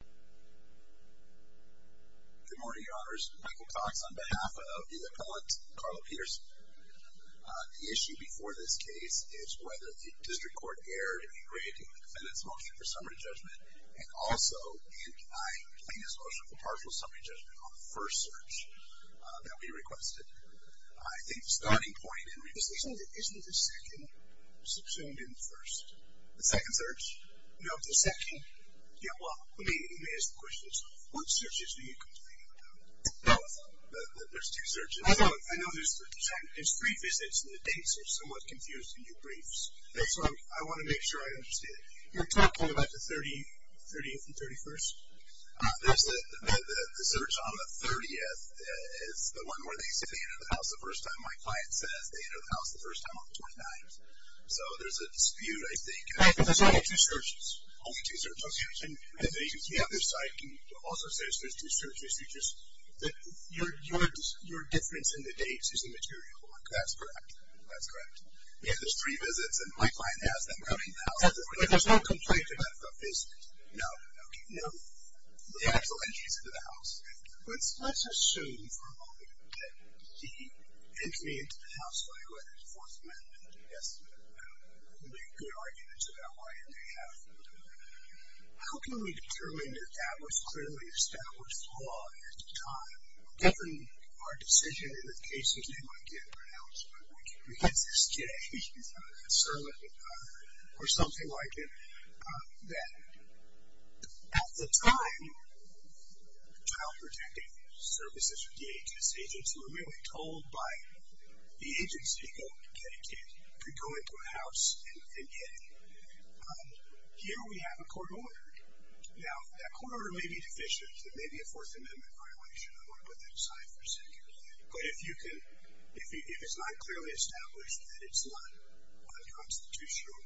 Good morning, your honors. Michael Cox on behalf of the appellate, Carlo Pederson. The issue before this case is whether the district court erred in degrading the defendant's motion for summary judgment and also in denying plaintiff's motion for partial summary judgment on the first search that we requested. I think the starting point in this... Isn't the second subpoenaed in the first? The second search? No, the second. Yeah, well, let me ask the question. What searches do you complain about? Both. There's two searches. I know. I know there's three visits and the dates are somewhat confused in your briefs. So I want to make sure I understand. You're talking about the 30th and 31st? There's the search on the 30th is the one where they say they entered the house the first time. My client says they entered the house the first time on the 29th. So there's a dispute, I think. Right, but there's only two searches. Only two searches. And the other side also says there's two searches, which is that your difference in the dates is immaterial. That's correct. That's correct. Yeah, there's three visits, and my client has them coming now. But there's no complaint about the visit? No. No? The actual entries into the house. Let's assume for a moment that the entry into the house by way of Fourth Amendment would make good arguments about why it may happen. How can we determine that that was clearly established law at the time? Given our decision in the cases they might get pronounced, or something like it, that at the time, child protective services or DHS agents were merely told by the agency, go get a kid, go into a house and get a kid. Here we have a court order. Now, that court order may be deficient. It may be a Fourth Amendment violation. I want to put that aside for a second. But if it's not clearly established that it's not unconstitutional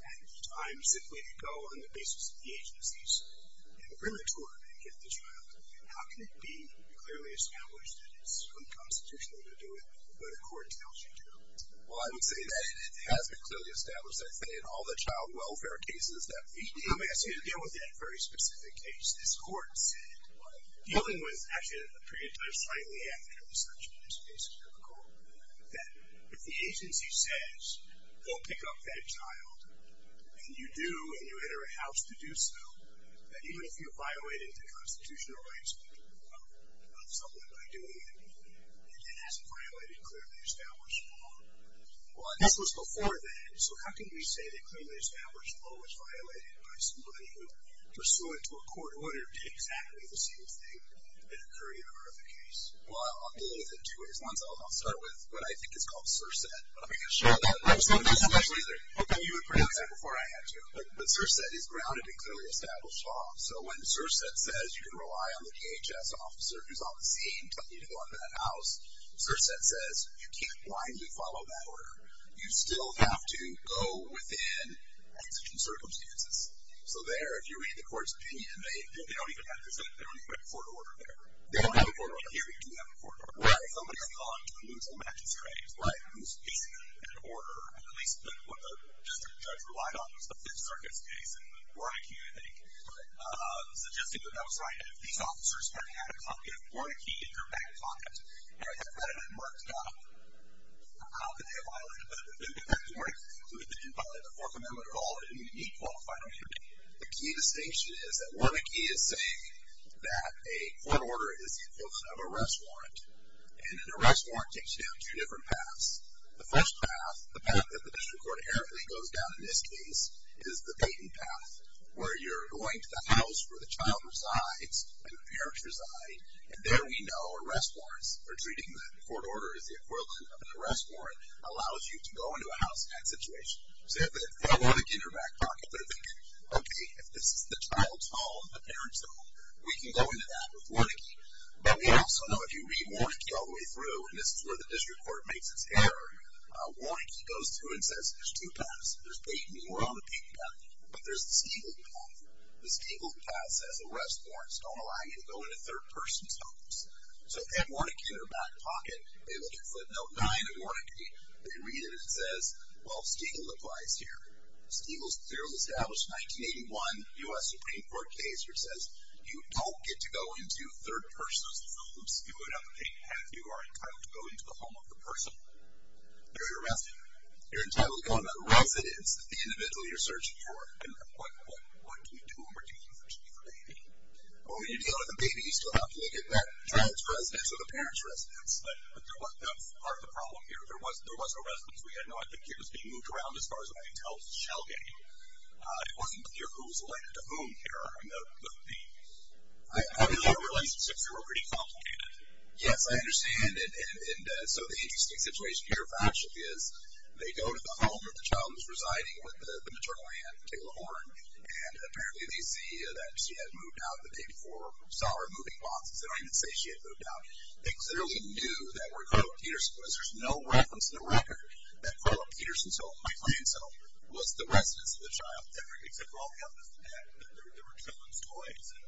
at the time, simply to go on the basis of the agency's imprimatur and get the child, how can it be clearly established that it's unconstitutional to do it, but a court tells you to? Well, I would say that it has been clearly established, I think, in all the child welfare cases that we deal with. Let me ask you again with that very specific case. This court said, dealing with, actually, a pre-emptive slightly after the section of this case is difficult, that if the agency says, go pick up that child, and you do, and you enter a house to do so, that even if you're violating the constitutional rights of someone by doing it, it hasn't violated clearly established law. Well, this was before then. So how can we say that clearly established law was violated by somebody who, pursuant to a court order, did exactly the same thing that occurred in a horrific case? Well, I'll deal with it in two ways. One is I'll start with what I think is called CSRSET. Let me get a shot of that. I was going to say CSRSET. I thought you would pronounce that before I had to. But CSRSET is grounded in clearly established law. So when CSRSET says you can rely on the DHS officer who's on the scene telling you to go into that house, CSRSET says, you can't blindly follow that order. You still have to go within exigent circumstances. So there, if you read the court's opinion, they don't even have a court order there. They don't have a court order here. You do have a court order there. Right. If somebody's calling to remove some magistrate who's facing an order, at least what the district judge relied on was the Fifth Circuit's case in Warnakee, I think, suggesting that that was right. And if these officers had had a copy of Warnakee in their back pocket and the creditor had marked down how could they have violated it. We didn't violate the Fourth Amendment at all. We didn't even need qualifying. The key distinction is that Warnakee is saying that a court order is the equivalent of an arrest warrant. And an arrest warrant takes you down two different paths. The first path, the path that the district court inherently goes down in this case, is the Dayton path, where you're going to the house where the child resides and the parents reside. And there we know arrest warrants, or treating the court order as the equivalent of an arrest warrant, allows you to go into a house-and-act situation. So if they have Warnakee in their back pocket, they're thinking, okay, if this is the child's home, the parents' home, we can go into that with Warnakee. But we also know if you read Warnakee all the way through, and this is where the district court makes its error, Warnakee goes through and says there's two paths. There's Dayton. We're on the Dayton path. But there's this Gable path. This Gable path says arrest warrants don't allow you to go into third person's homes. So if they have Warnakee in their back pocket, they look at footnote 9 of Warnakee. They read it. It says, well, Stiegel applies here. Stiegel's clearly established 1981 U.S. Supreme Court case, where it says you don't get to go into third person's homes. You would have to be entitled to go into the home of the person you're arresting. You're entitled to go into the residence that the individual you're searching for. And what can you do when you're searching for a baby? Well, when you deal with a baby, you still have to look at that child's residence or the parents' residence. But that's part of the problem here. There was no residence we had. No, I think it was being moved around as far as I can tell. It's a shell game. It wasn't clear who was related to whom here. I mean, having those relationships here were pretty complicated. Yes, I understand. And so the interesting situation here, factually, is they go to the home where the child was residing with the maternal aunt, Kayla Horne, and apparently they see that she had moved out, that they saw her moving boxes. They don't even say she had moved out. They clearly knew that we're going to Peterson, because there's no reference in the record that Carla Peterson's home, my client's home, was the residence of the child, except for all the evidence that there were children's toys and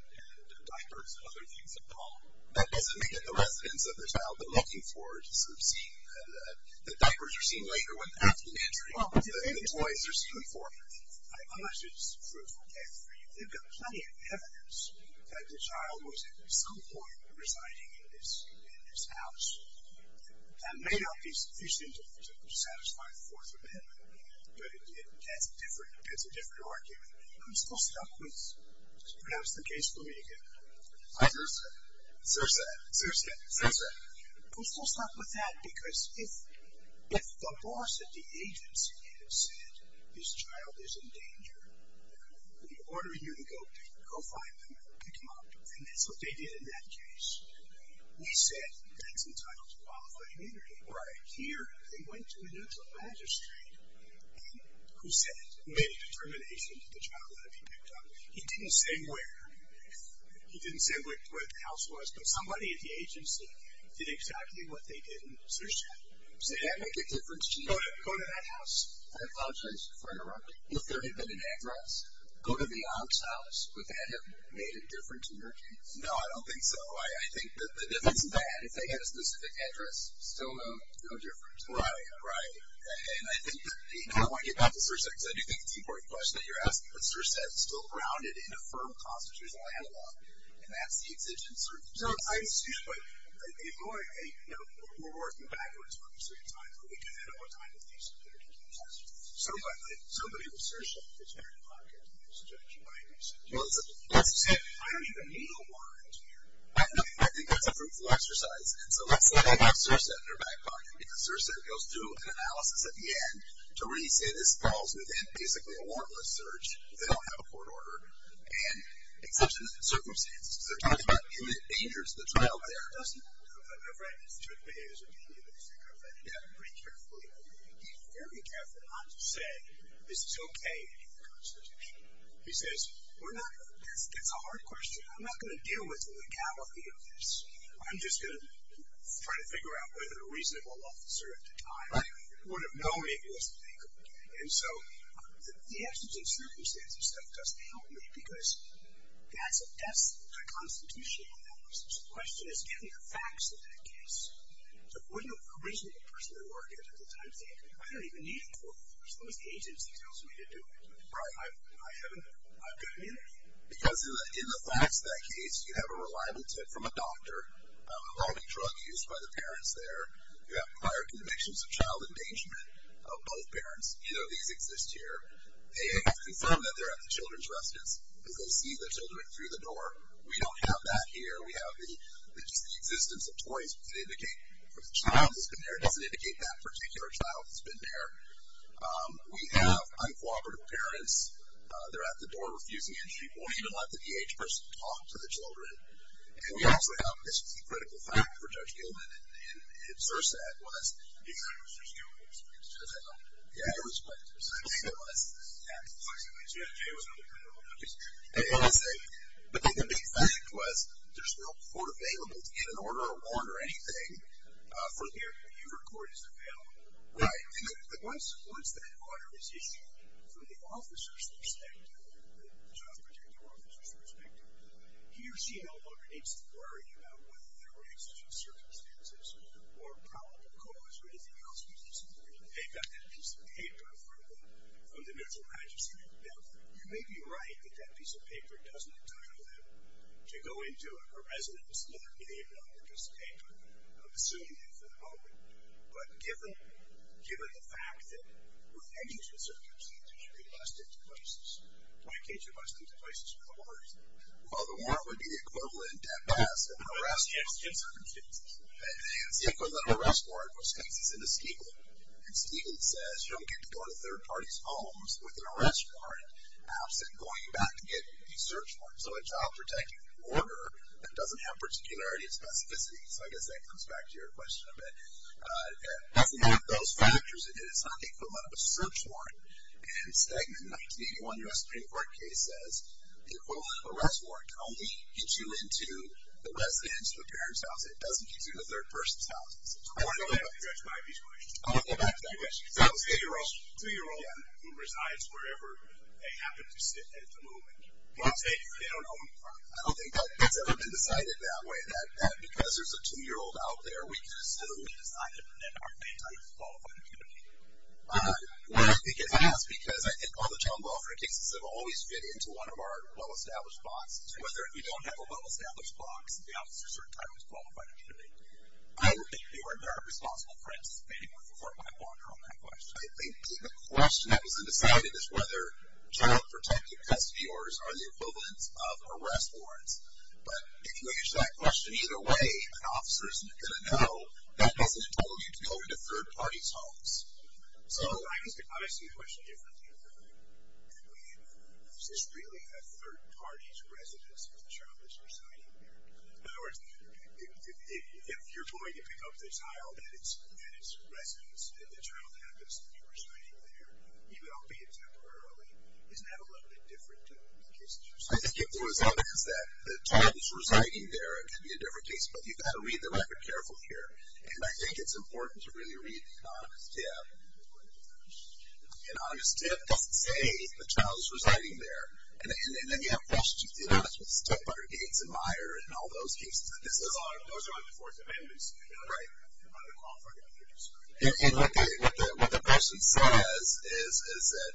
diapers and other things at the home. That doesn't make it the residence of the child. They're looking for it. The diapers are seen later when the afternoon entry. The toys are seen before. I'm not sure this is a truthful case for you. They've got plenty of evidence that the child was, at some point, residing in this house. That may not be sufficient to satisfy the Fourth Amendment, but it's a different argument. I'm still stuck with, just pronounce the case for me again. Cersak. Cersak. Cersak. Cersak. I'm still stuck with that because if the boss at the agency said, this child is in danger, we're ordering you to go find them and pick them up, and that's what they did in that case. We said that's entitled to qualified immunity. Right. Here, they went to a neutral magistrate who said, made a determination that the child had to be picked up. He didn't say where. He didn't say where the house was, but somebody at the agency did exactly what they did in Cersak. Does that make a difference to you? Go to that house. I apologize for interrupting. If there had been an address, go to the aunt's house. Would that have made a difference in your case? No, I don't think so. I think that if it's bad, if they had a specific address, still no difference. Right, right. And I think that, you know, I want to get back to Cersak, because I do think it's an important question that you're asking, but Cersak is still grounded in a firm constitutional analog, and that's the exigent circumstances. No, I assume, but, you know, we're working backwards from a certain time, but we do know what kind of cases there are going to be in Cersak. So, but if somebody with Cersak is in their back pocket, it's a judgment I assume. Well, as you said, I don't even need a warrant here. I think that's a fruitful exercise, and so let's let them have Cersak in their back pocket, because Cersak goes through an analysis at the end to really say, this falls within basically a warrantless search. They don't have a court order, and it's such circumstances. But in the dangers of the trial there, it doesn't, I've never had an institutional behaviorist opinion, but I think I've read it down pretty carefully. He's very careful not to say, this is okay in the Constitution. He says, we're not, that's a hard question. I'm not going to deal with the legality of this. I'm just going to try to figure out whether a reasonable officer at the time would have known it was legal. And so the exigent circumstances stuff doesn't help me, because that's a constitutional analysis. So the question is, given the facts of that case, would an original person at the time say, I don't even need a court order. There's no agency that tells me to do it. Right. I've got immunity. Because in the facts of that case, you have a reliable tip from a doctor, involving drug use by the parents there. You have prior convictions of child endangerment of both parents. Either of these exist here. They confirm that they're at the children's residence, because they see the children through the door. We don't have that here. We have the existence of toys. Does it indicate that the child has been there? Does it indicate that particular child has been there? We have uncooperative parents. They're at the door refusing entry. Won't even let the DH person talk to the children. And we also have, this was a critical fact for Judge Gilman, and Sir said was. He said it was just guilt. He said that. Yeah. It was quite, so I think it was. Yeah. I just want to say. But I think the big fact was, there's no court available to get an order of warrant or anything from here. The Hoover Court is available. Right. The one supports that an order is issued from the officer's perspective, the job protective officer's perspective. He or she no longer needs to worry about whether there were exigent circumstances or probable cause or anything else. They've got that piece of paper from the middle magistrate. Now, you may be right that that piece of paper doesn't entitle them to go into a residence with their name on the piece of paper. I'm assuming that for the moment. But given the fact that with exigent circumstances, they must enter places. Why can't you bust into places with a warrant? Well, the warrant would be the equivalent of death pass and arrest with exigent circumstances. And it's the equivalent of an arrest warrant, which takes us into Stiglitz. And Stiglitz says, you don't get to go into third parties' homes with an arrest warrant absent going back and getting a search warrant. So a job protective order that doesn't have particularity or specificity. So I guess that comes back to your question a bit. That's one of those factors. It's not the equivalent of a search warrant. And Stegman, 1981 U.S. Supreme Court case, says the equivalent of an arrest warrant can only get you into the residence of a parent's house. It doesn't get you into a third person's house. I want to go back to that question. That was a 2-year-old. A 2-year-old who resides wherever they happen to sit at the moment. They don't know in front. I don't think that's ever been decided that way. That because there's a 2-year-old out there, we can still decide to prevent our parents out of a qualified community. Well, I think it has because I think all the child welfare cases have always fit into one of our well-established boxes. Whether you don't have a well-established box, the officer at a certain time is qualified to intervene. I don't think they are. And there are responsible friends of Stegman before I wander on that question. I think the question that was undecided is whether child protective custody orders are the equivalents of arrest warrants. But if you answer that question either way, an officer isn't going to know. That doesn't entitle you to go into third parties' homes. So I see the question differently. I mean, is this really a third party's residence if the child is residing there? In other words, if you're going to pick up the child and it's residence and the child happens to be residing there, you don't pay it temporarily. Isn't that a little bit different to the cases you've seen? I think it was evidence that the child is residing there. It could be a different case. But you've got to read the record carefully here. And I think it's important to really read the honest tip. The honest tip doesn't say the child is residing there. And then you have questions. The honest tip are Gates and Meyer and all those cases. Those are on the Fourth Amendment. Right. And what the person says is that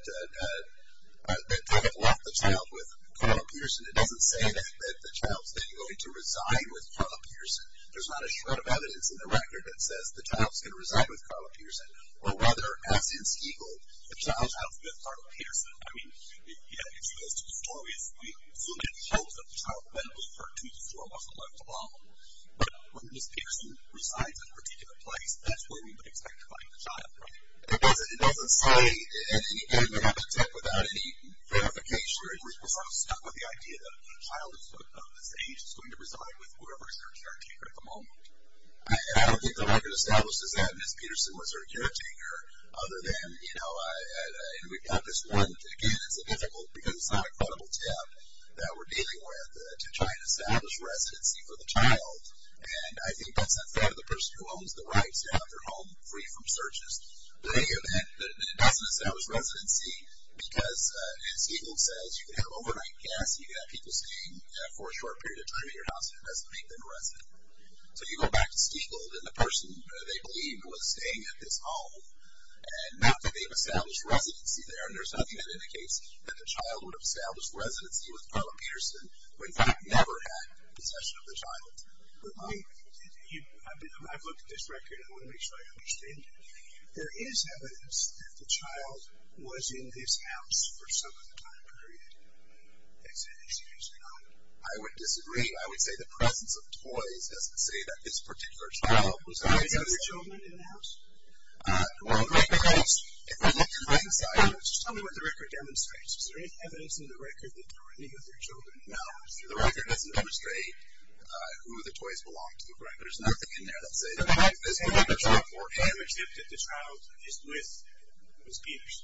they have left the child with Carla Peterson. It doesn't say that the child is then going to resign with Carla Peterson. There's not a shred of evidence in the record that says the child is going to either, as in Siegel, the child has left Carla Peterson. I mean, it's those two stories. We assume it shows that the child then was hurt two to four months and left alone. But when Ms. Peterson resides in a particular place, that's where we would expect to find the child, right? It doesn't say at any point of the text without any verification or at least we're sort of stuck with the idea that a child of this age is going to reside with whoever is her caretaker at the moment. And I don't think the record establishes that Ms. Peterson was her caretaker, other than, you know, and we've got this one. Again, it's difficult because it's not a credible tip that we're dealing with to try and establish residency for the child. And I think that's a threat to the person who owns the rights to have their home free from searches. But it doesn't establish residency because, as Siegel says, you can have overnight guests, you can have people staying for a short period of time at your house, and it doesn't make them a resident. So you go back to Siegel and the person they believe was staying at this home and now that they've established residency there, and there's nothing that indicates that the child would have established residency with Carla Peterson when they've never had possession of the child. I've looked at this record. I want to make sure I understand it. There is evidence that the child was in this house for some of the time period. Excuse me. I would disagree. I would say the presence of toys doesn't say that this particular child was in this house. Was there any other children in the house? Well, if we look at the right side, just tell me what the record demonstrates. Is there any evidence in the record that there were any other children in the house? The record doesn't demonstrate who the toys belonged to, correct? There's nothing in there that says that this particular child or image that the child is with was each.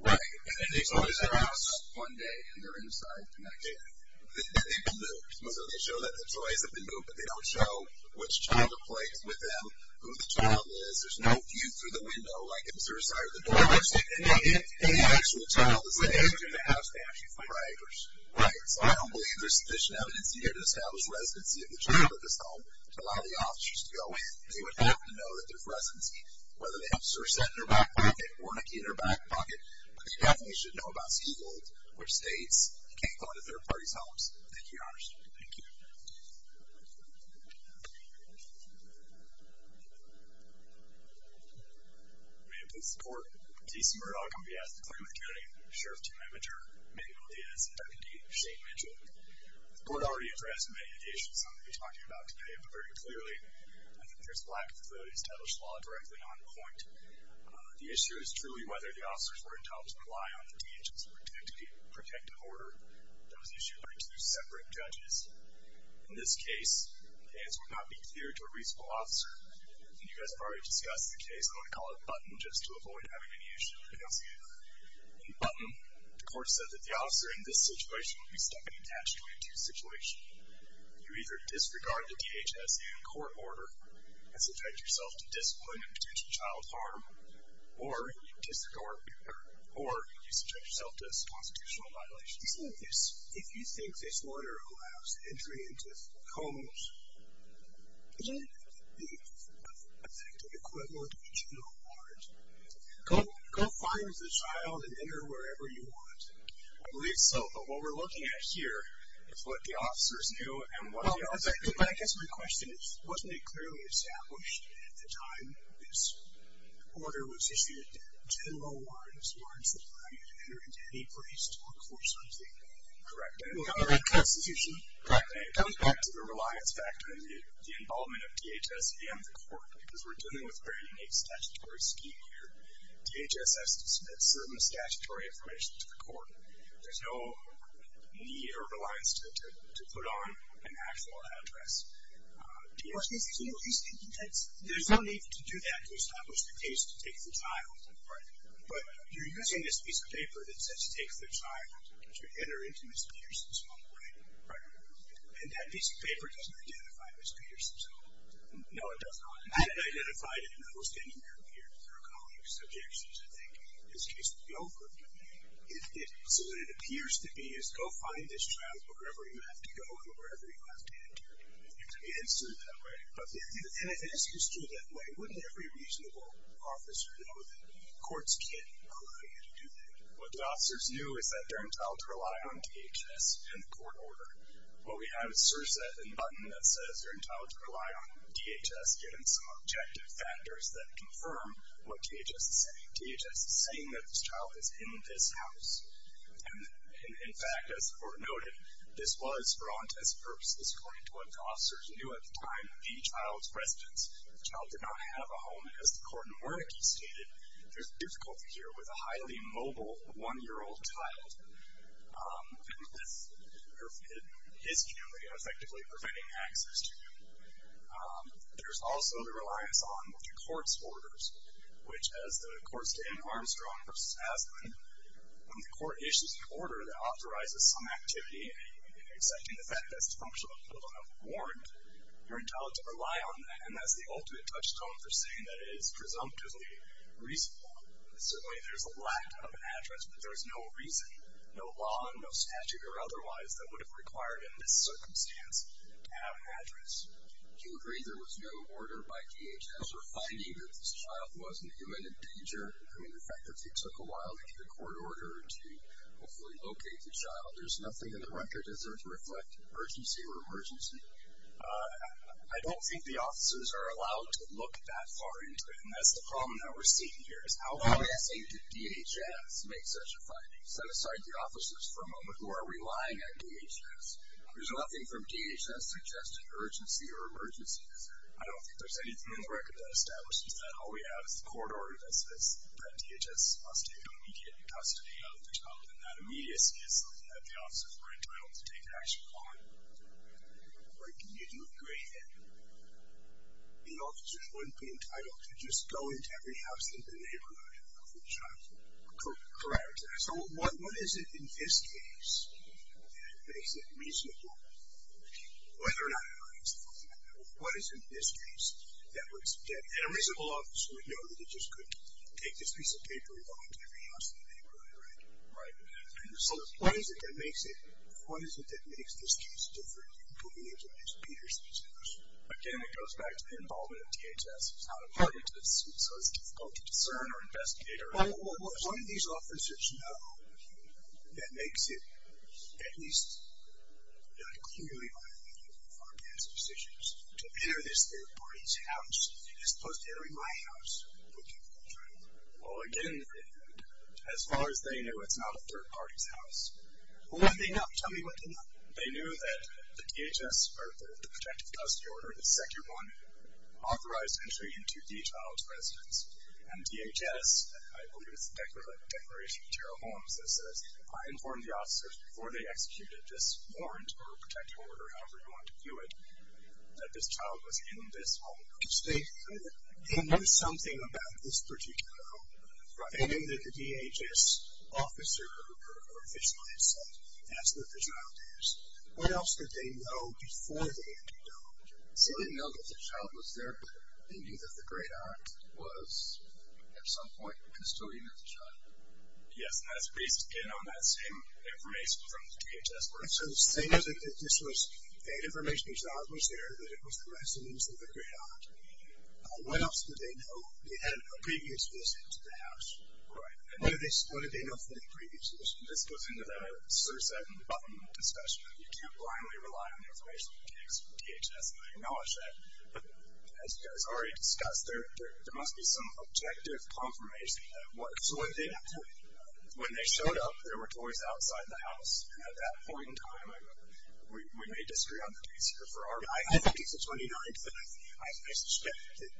Right. And they told us their house one day in their inside connection. That they've been moved. So they show that the toys have been moved, but they don't show which child are placed with them, who the child is. There's no view through the window like in the suicide or the door. Any actual child is in the house they actually find. Right. So I don't believe there's sufficient evidence here to establish residency of the child at this home to allow the officers to go in. They would have to know that there's residency, whether the officers are sent in their back pocket or in a key in their back pocket. But they definitely should know about school, which states, you can't go into third parties' homes. Thank you, Your Honor. Thank you. May it please the Court, December, I'll come to you as the claimant, county sheriff, team manager, Megan Lee as deputy, Shane Mitchell. The Court already addressed many of the issues that I'm going to be talking about today, but very clearly, I think there's a lack of facilities to establish law directly on point. The issue is truly whether the officers were entitled to rely on the DHS protective order that was issued by two separate judges. In this case, as would not be clear to a reasonable officer, and you guys have already discussed the case, I'm going to call it a button just to avoid having any issue announcing it. In the button, the Court said that the officer in this situation would be stuck and attached to a two-situation. You either disregard the DHS and court order and subject yourself to discipline and potential child harm, or you disregard or you subject yourself to constitutional violation. If you think this order allows entry into homes, is that the effective equivalent of a juvenile warrant? Go find the child and enter wherever you want. I believe so, but what we're looking at here is what the officers knew and what the officers didn't know. I guess my question is, wasn't it clearly established at the time this order was issued that juvenile warrants were in supply and you could enter into any place to look for something? Correct, and it comes back to the reliance factor and the involvement of DHS and the court, because we're dealing with a very unique statutory scheme here. DHS has to submit certain statutory information to the court. There's no need or reliance to put on an actual address. DHS can do it. There's no need to do that to establish the case to take the child. Right. But you're using this piece of paper that says to take the child to enter into Ms. Peterson's home, right? Right. And that piece of paper doesn't identify Ms. Peterson's home. No, it does not. It identified it and it was standing there and appeared through a colleague's subjection, so I think this case would be over So what it appears to be is go find this child wherever you have to go and wherever you have to enter. It is true that way. And if it is true that way, wouldn't every reasonable officer know that courts can't allow you to do that? What the officers knew is that they're entitled to rely on DHS and the court order. What we have is CSRSF and Button that says they're entitled to rely on DHS given some objective factors that confirm what DHS is saying. DHS is saying that this child is in this house. And, in fact, as the court noted, this was for on-test purposes according to what the officers knew at the time of the child's residence. The child did not have a home. As the court in Wernicke stated, there's difficulty here with a highly mobile one-year-old child and his family effectively preventing access to him. There's also the reliance on the court's orders, which, as the courts did in Armstrong v. Asplen, when the court issues an order that authorizes some activity excepting the fact that it's a function of a parental warrant, you're entitled to rely on that. And that's the ultimate touchstone for saying that it is presumptively reasonable. Certainly there's a lack of an address, but there is no reason, no law and no statute or otherwise that would have required, in this circumstance, to have an address. Do you agree there was no order by DHS for finding that this child was in imminent danger? I mean, the fact that it took a while to get a court order to hopefully locate the child, there's nothing in the record, is there, to reflect emergency or emergency? I don't think the officers are allowed to look that far into it, and that's the problem that we're seeing here, is how far, let's say, did DHS make such a finding? Set aside the officers for a moment who are relying on DHS. There's nothing from DHS suggesting urgency or emergencies. I don't think there's anything in the record that establishes that. All we have is the court order that says that DHS must take immediate custody of the child, and that immediacy is something that the officers are entitled to take action on. Right. Can you do a gray area? The officers wouldn't be entitled to just go into every house in the neighborhood and look for the child. Correct. So what is it in this case that makes it reasonable, whether or not it makes it reasonable, what is it in this case that would suggest, and a reasonable officer would know that they just couldn't take this piece of paper and go into every house in the neighborhood, right? Right. So what is it that makes it, what is it that makes this case different, including in terms of Peter's case? Again, it goes back to the involvement of DHS as to how to target this, so it's difficult to discern or investigate. Well, what do these officers know that makes it at least clearly unthinkable for a man's decisions to enter this third party's house as opposed to entering my house looking for the child? Well, again, as far as they know, it's not a third party's house. Well, what do they know? Tell me what they know. They knew that the DHS, or the protective custody order, the Sector 1 authorized entry into the child's residence, and DHS, I believe it's the Declaration of Internal Homes that says, I informed the officers before they executed this warrant or protective order, however you want to view it, that this child was in this home. So they knew something about this particular home. Right. They knew that the DHS officer or official himself asked what the child is. What else did they know before they entered the home? So they knew that the child was there, they knew that the great aunt was, at some point, a custodian of the child. Yes, and that's based, again, on that same information from the DHS. So the same as if this was, they had information the child was there, that it was the residence of the great aunt, what else did they know? They had a previous visit to the house. Right. And what did they know from the previous visit? This goes into that CSR 7 button discussion. You can't blindly rely on information from DHS. I acknowledge that, as you guys already discussed, there must be some objective confirmation. So when they showed up, there were toys outside the house, and at that point in time, we may disagree on the case here. I think it's the 29th, but I suspect that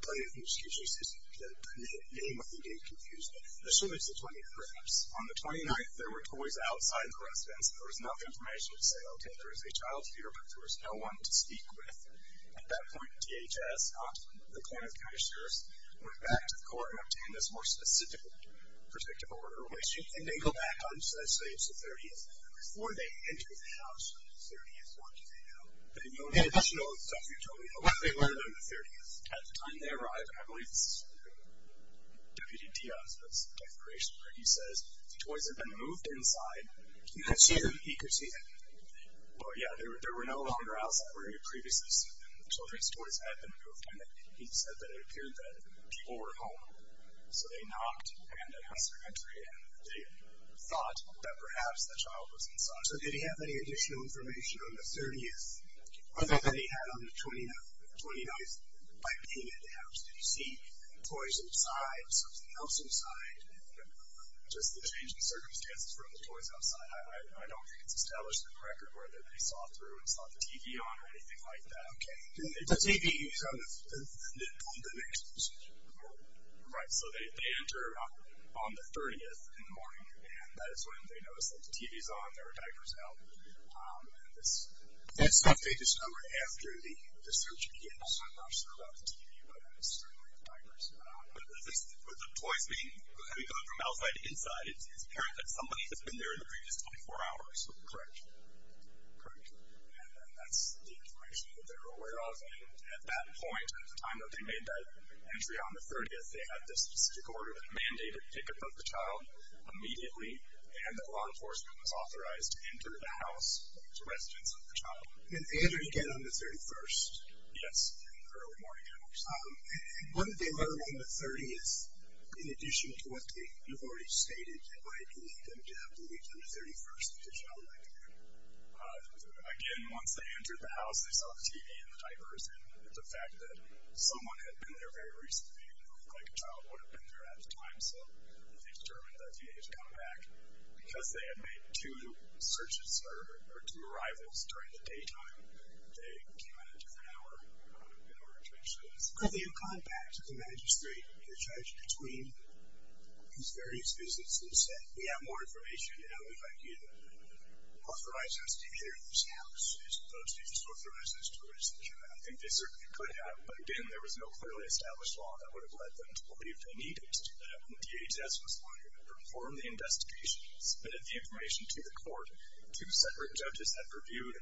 the name of the date confused them. I assume it's the 29th. Perhaps. On the 29th, there were toys outside the residence, and there was enough information to say, okay, there is a child here, but there was no one to speak with. At that point, DHS, not the point of cash service, went back to the court and obtained this more specific protective order. And they go back on, should I say it's the 30th, before they enter the house on the 30th, what do they know? The additional stuff you told me, what did they learn on the 30th? At the time they arrived, I believe it's Deputy Dias, where he says the toys had been moved inside. He could see them? He could see them. Well, yeah, they were no longer outside. Previously, the children's toys had been moved, and he said that it appeared that people were home. So they knocked, and it was their entry, and they thought that perhaps the child was inside. So did he have any additional information on the 30th other than he had on the 29th by paying at the house? Did he see the toys inside, something else inside, and just the changing circumstances for the toys outside? I don't think it's established on the record whether they saw through and saw the TV on or anything like that. Okay. The TV is on the next floor. Right. So they enter on the 30th in the morning, and that is when they notice that the TV is on, there are diapers out. And this update is numbered after the search begins. I'm not sure about the TV, but certainly the diapers are on. But the toys having gone from outside to inside, it's apparent that somebody has been there in the previous 24 hours. Correct. Correct. And that's the information that they're aware of. And at that point, at the time that they made that entry on the 30th, they had this specific order that mandated pickup of the child immediately, and that law enforcement was authorized to enter the house as residents of the child. And they entered again on the 31st? Yes, in the early morning hours. What did they learn on the 30th, in addition to what you've already stated, that might lead them to have to leave on the 31st with a child like that? Again, once they entered the house, they saw the TV and the diapers, and the fact that someone had been there very recently didn't look like a child would have been there at the time, so they determined that they needed to come back. Because they had made two searches or two arrivals during the daytime, they came in at a different hour in order to ensure this. Could they have gone back to the magistrate, the judge, between these various businesses and said, we have more information, and we'd like you to authorize us to enter this house as opposed to just authorize us to register the child? I think they certainly could have. But again, there was no clearly established law that would have led them to believe they needed to do that when DHS was wanted to perform the investigation, submitted the information to the court. Two separate judges had reviewed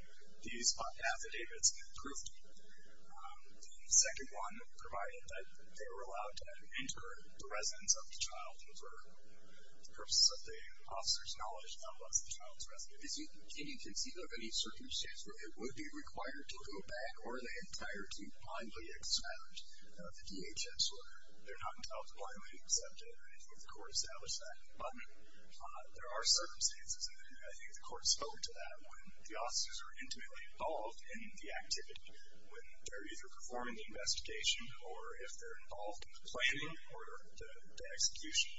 these affidavits, proved the second one, provided that they were allowed to enter the residence of the child for the purposes of the officer's knowledge, not the child's residence. Can you conceive of any circumstance where they would be required to go back or are they required to blindly accept the DHS order? They're not entitled to blindly accept it if the court established that. But there are circumstances, and I think the court spoke to that, when the officers are intimately involved in the activity, when they're either performing the investigation or if they're involved in the planning or the execution.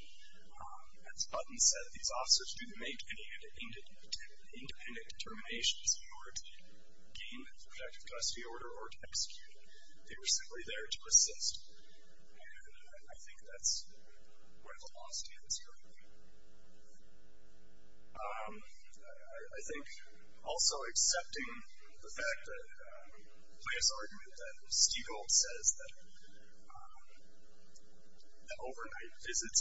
As Button said, these officers didn't make any independent determinations in order to gain the protective custody order or to execute it. They were simply there to assist. And I think that's where the law stands currently. I think also accepting the fact that Leah's argument that Stigold says that overnight visits,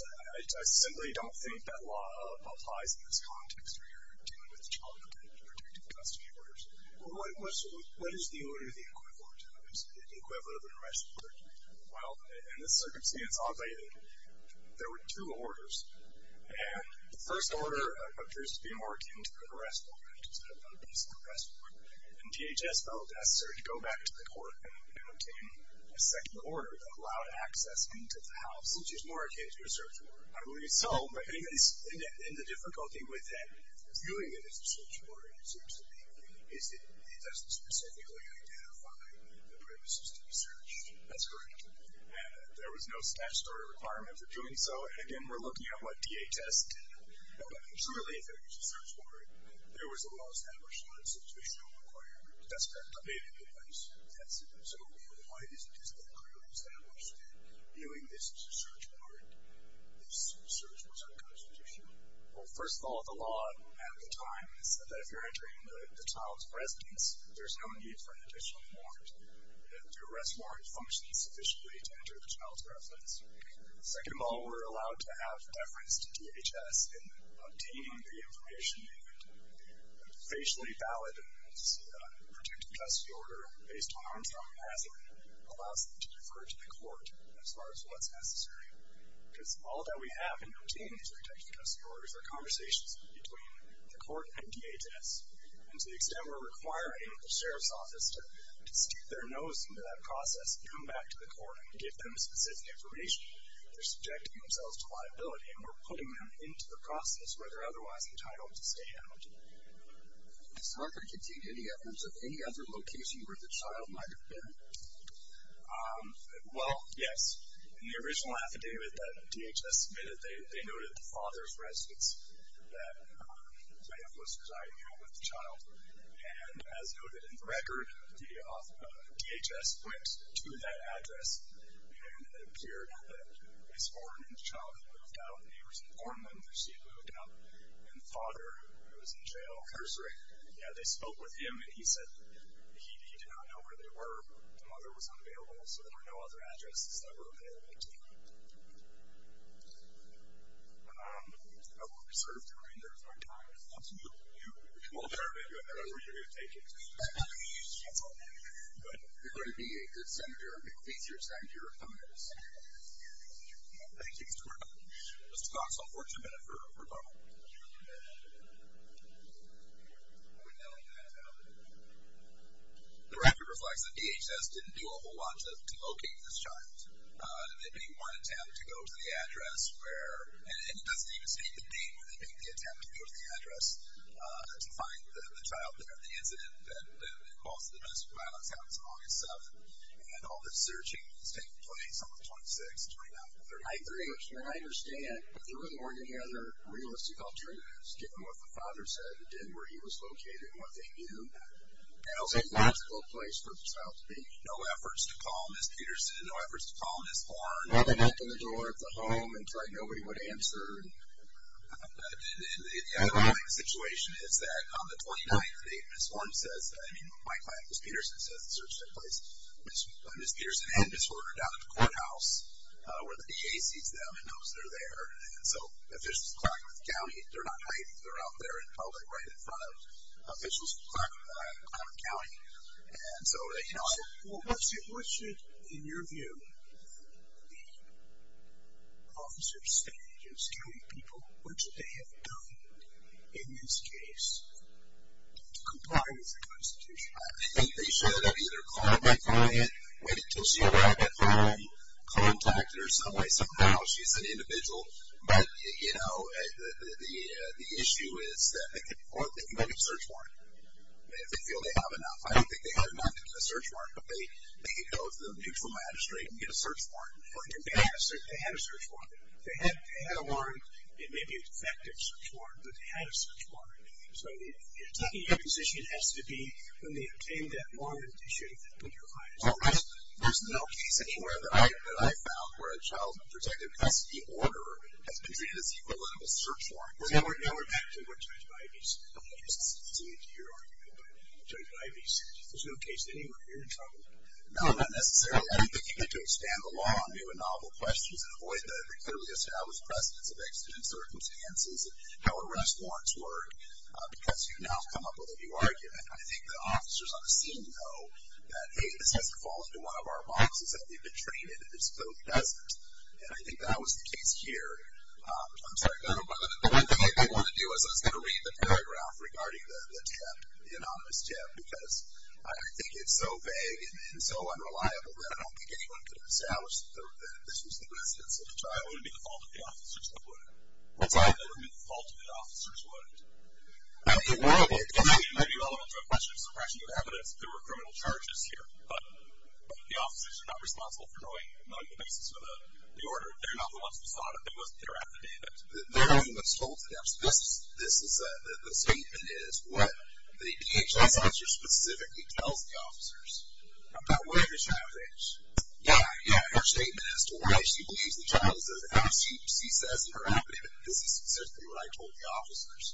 I simply don't think that law applies in this context where you're dealing with child protective custody orders. What is the order the equivalent of? Well, in this circumstance, I'll tell you that there were two orders. The first order appears to be more akin to an arrest order instead of a basic arrest order. And DHS felt it necessary to go back to the court and obtain a second order that allowed access into the house. Which is more akin to a search order, I believe. So in the difficulty with viewing it as a search order, it seems to me, is that it doesn't specifically identify the premises to be searched. That's correct. And there was no statutory requirement for doing so. And again, we're looking at what DHS did. But surely if it was a search order, there was a law established on a situational requirement. That's correct. Updated device. That's it. So why isn't this law clearly established that viewing this as a search order, this search was unconstitutional? Well, first of all, the law at the time said that if you're entering the child's residence, there's no need for an additional warrant. The arrest warrant functions officially to enter the child's residence. Second of all, we're allowed to have deference to DHS in obtaining the information needed. A facially valid and protective custody order, based on our enthusiasm, allows them to defer to the court as far as what's necessary. Because all that we have in obtaining these protective custody orders are conversations between the court and DHS. And to the extent we're requiring the sheriff's office to stick their nose into that process, come back to the court and give them specific information, they're subjecting themselves to liability. And we're putting them into the process where they're otherwise entitled to stay out. Does Harper contain any evidence of any other location where the child might have been? Well, yes. In the original affidavit that DHS submitted, they noted the father's residence that may have was residing here with the child. And as noted in the record, DHS went to that address and it appeared that he was born and the child had moved out. The neighbors had informed them that she had moved out. And the father, who was in jail, cursory, they spoke with him and he said he did not know where they were. The mother was unavailable, so there were no other addresses that were available to them. I will reserve the remainder of my time. Thank you. Well, there may be another where you're going to take it. That's all. You're going to be a good senator and make it easier to send your opponents. Thank you. Mr. Clark. Mr. Cox, I'll forward you a minute for a moment. The record reflects that DHS didn't do a whole lot to locate this child. There may be one attempt to go to the address where and it doesn't even state the date where they made the attempt to go to the address to find the child there. The incident that caused the domestic violence happens on August 7th. And all the searching has taken place on the 26th, 29th, and 33rd. I understand, but there really weren't any other realistic alternatives given what the father said and did, where he was located, and what they knew. It was a logical place for the child to be. No efforts to call Ms. Peterson, no efforts to call Ms. Horn, to open the door of the home and try nobody would answer. The underlying situation is that on the 29th, the date Ms. Horn says, I mean, my client, Ms. Peterson, says the search took place. Ms. Peterson had Ms. Horner down at the courthouse where the DA sees them and knows they're there. And so officials in Clarkmouth County, they're not hiding. They're out there in public right in front of officials in Clarkmouth County. And so, you know, what should, in your view, the officers, state agents, county people, what should they have done in this case to comply with the Constitution? I think they should have either called my client, waited until she arrived at home, contacted her some way, somehow. She's an individual. But, you know, the issue is that they can make a search warrant. If they feel they have enough. I don't think they have enough to get a search warrant, but they can go to the mutual magistrate and get a search warrant. They had a search warrant. If they had a warrant, it may be an effective search warrant, but they had a search warrant. So taking your position has to be when they obtained that warrant, did you put your client in trouble? There's no case anywhere that I found where a child's protective custody order has been treated as equivalent of a search warrant. Now we're back to what Judge Ivey said. I don't know if this is related to your argument, but Judge Ivey said, there's no case anywhere you're in trouble. No, not necessarily. I don't think you get to expand the law on new and novel questions and avoid the clearly established precedents of exigent circumstances and how arrest warrants work because you now come up with a new argument. I think the officers on the scene know that, hey, this has to fall into one of our boxes, that they've been trained in it. It's so pleasant. And I think that was the case here. I'm sorry. The only thing I did want to do was I was going to read the paragraph regarding the tip, the anonymous tip, because I think it's so vague and so unreliable that I don't think anyone could have established that this was the residence of a child. It would be the fault of the officers that put it. What's that? It would be the fault of the officers who put it. It might be relevant to a question of suppression of evidence. There were criminal charges here, but the officers are not responsible for knowing the basis of the order. They're not the ones who saw it. They're after the evidence. They're the ones who told the evidence. The statement is what the DHS officer specifically tells the officers about where the child is. Yeah, her statement as to why she believes the child is there. She says in her affidavit, this is specifically what I told the officers.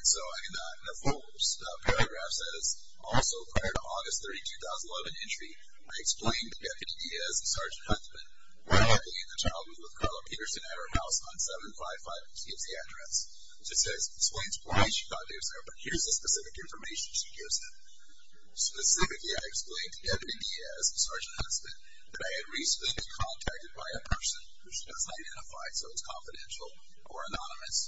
The full paragraph says, also prior to August 30, 2011 entry, I explained to Deputy Diaz and Sergeant Huntsman where I believe the child was with Carla Peterson at her house on 755. It gives the address. It explains why she thought it was there, but here's the specific information she gives them. Specifically, I explained to Deputy Diaz and Sergeant Huntsman that I had recently been contacted by a person who she doesn't identify, so it's confidential or anonymous,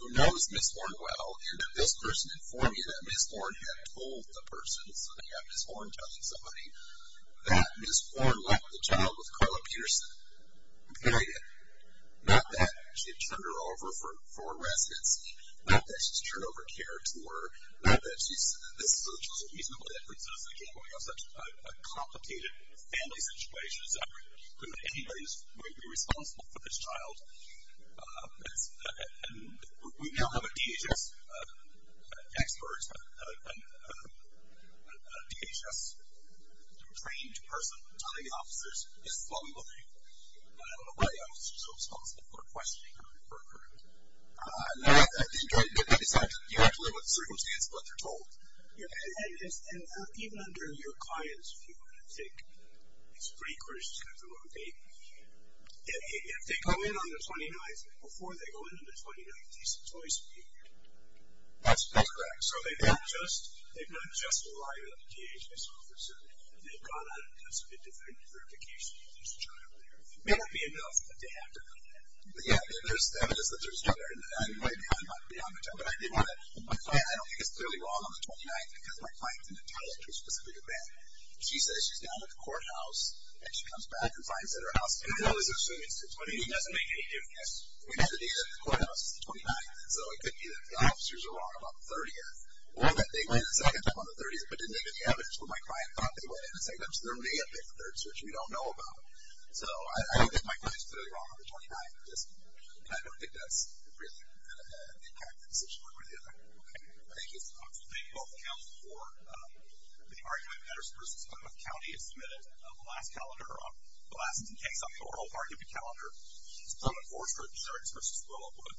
who knows Ms. Horne well and that this person informed me that Ms. Horne had told the person, so they have Ms. Horne telling somebody, that Ms. Horne left the child with Carla Peterson. Period. Not that she had turned her over for a residency. Not that she's turned over care to her. Not that she's, this is a reasonable difference. Again, we have such a complicated family situation. It's not like anybody's going to be responsible for this child. And we now have a DHS expert, a DHS trained person, one of the officers is flummoxing. I don't know why the officer is so responsible for questioning her. And that is, you have to live with the circumstances of what they're told. Yeah, and even under your client's view, I think, it's pretty critical to have the wrong data. If they go in on the 29th, before they go into the 29th, there's a choice of being here. That's correct. So they've not just arrived at the DHS office and they've gone out and done some identification and there's a child there. It may not be enough, but they have to know that. But yeah, there's evidence that there's a child there, and I'm way beyond the time, but I did want to, my client, I don't think it's clearly wrong on the 29th, because my client didn't tell it to a specific event. She says she's down at the courthouse, and she comes back and finds it at her house. And I know it's an assumed instance, but it doesn't make any difference. We have the data at the courthouse, it's the 29th, so it could be that the officers are wrong on the 30th, or that they went in the second time on the 30th, but didn't get any evidence, or my client thought they went in the second time, so there may have been a third search. We don't know about it. So I don't think my client is clearly wrong on the 29th, and I don't think that's really the impact of the decision one way or the other. Okay, thank you. I'd like to thank both counsels for the argument that Patterson v. Monmouth County has submitted the last calendar, or the last case on the oral part of the calendar. It's Plano Forestry Insurance v. Willowwood.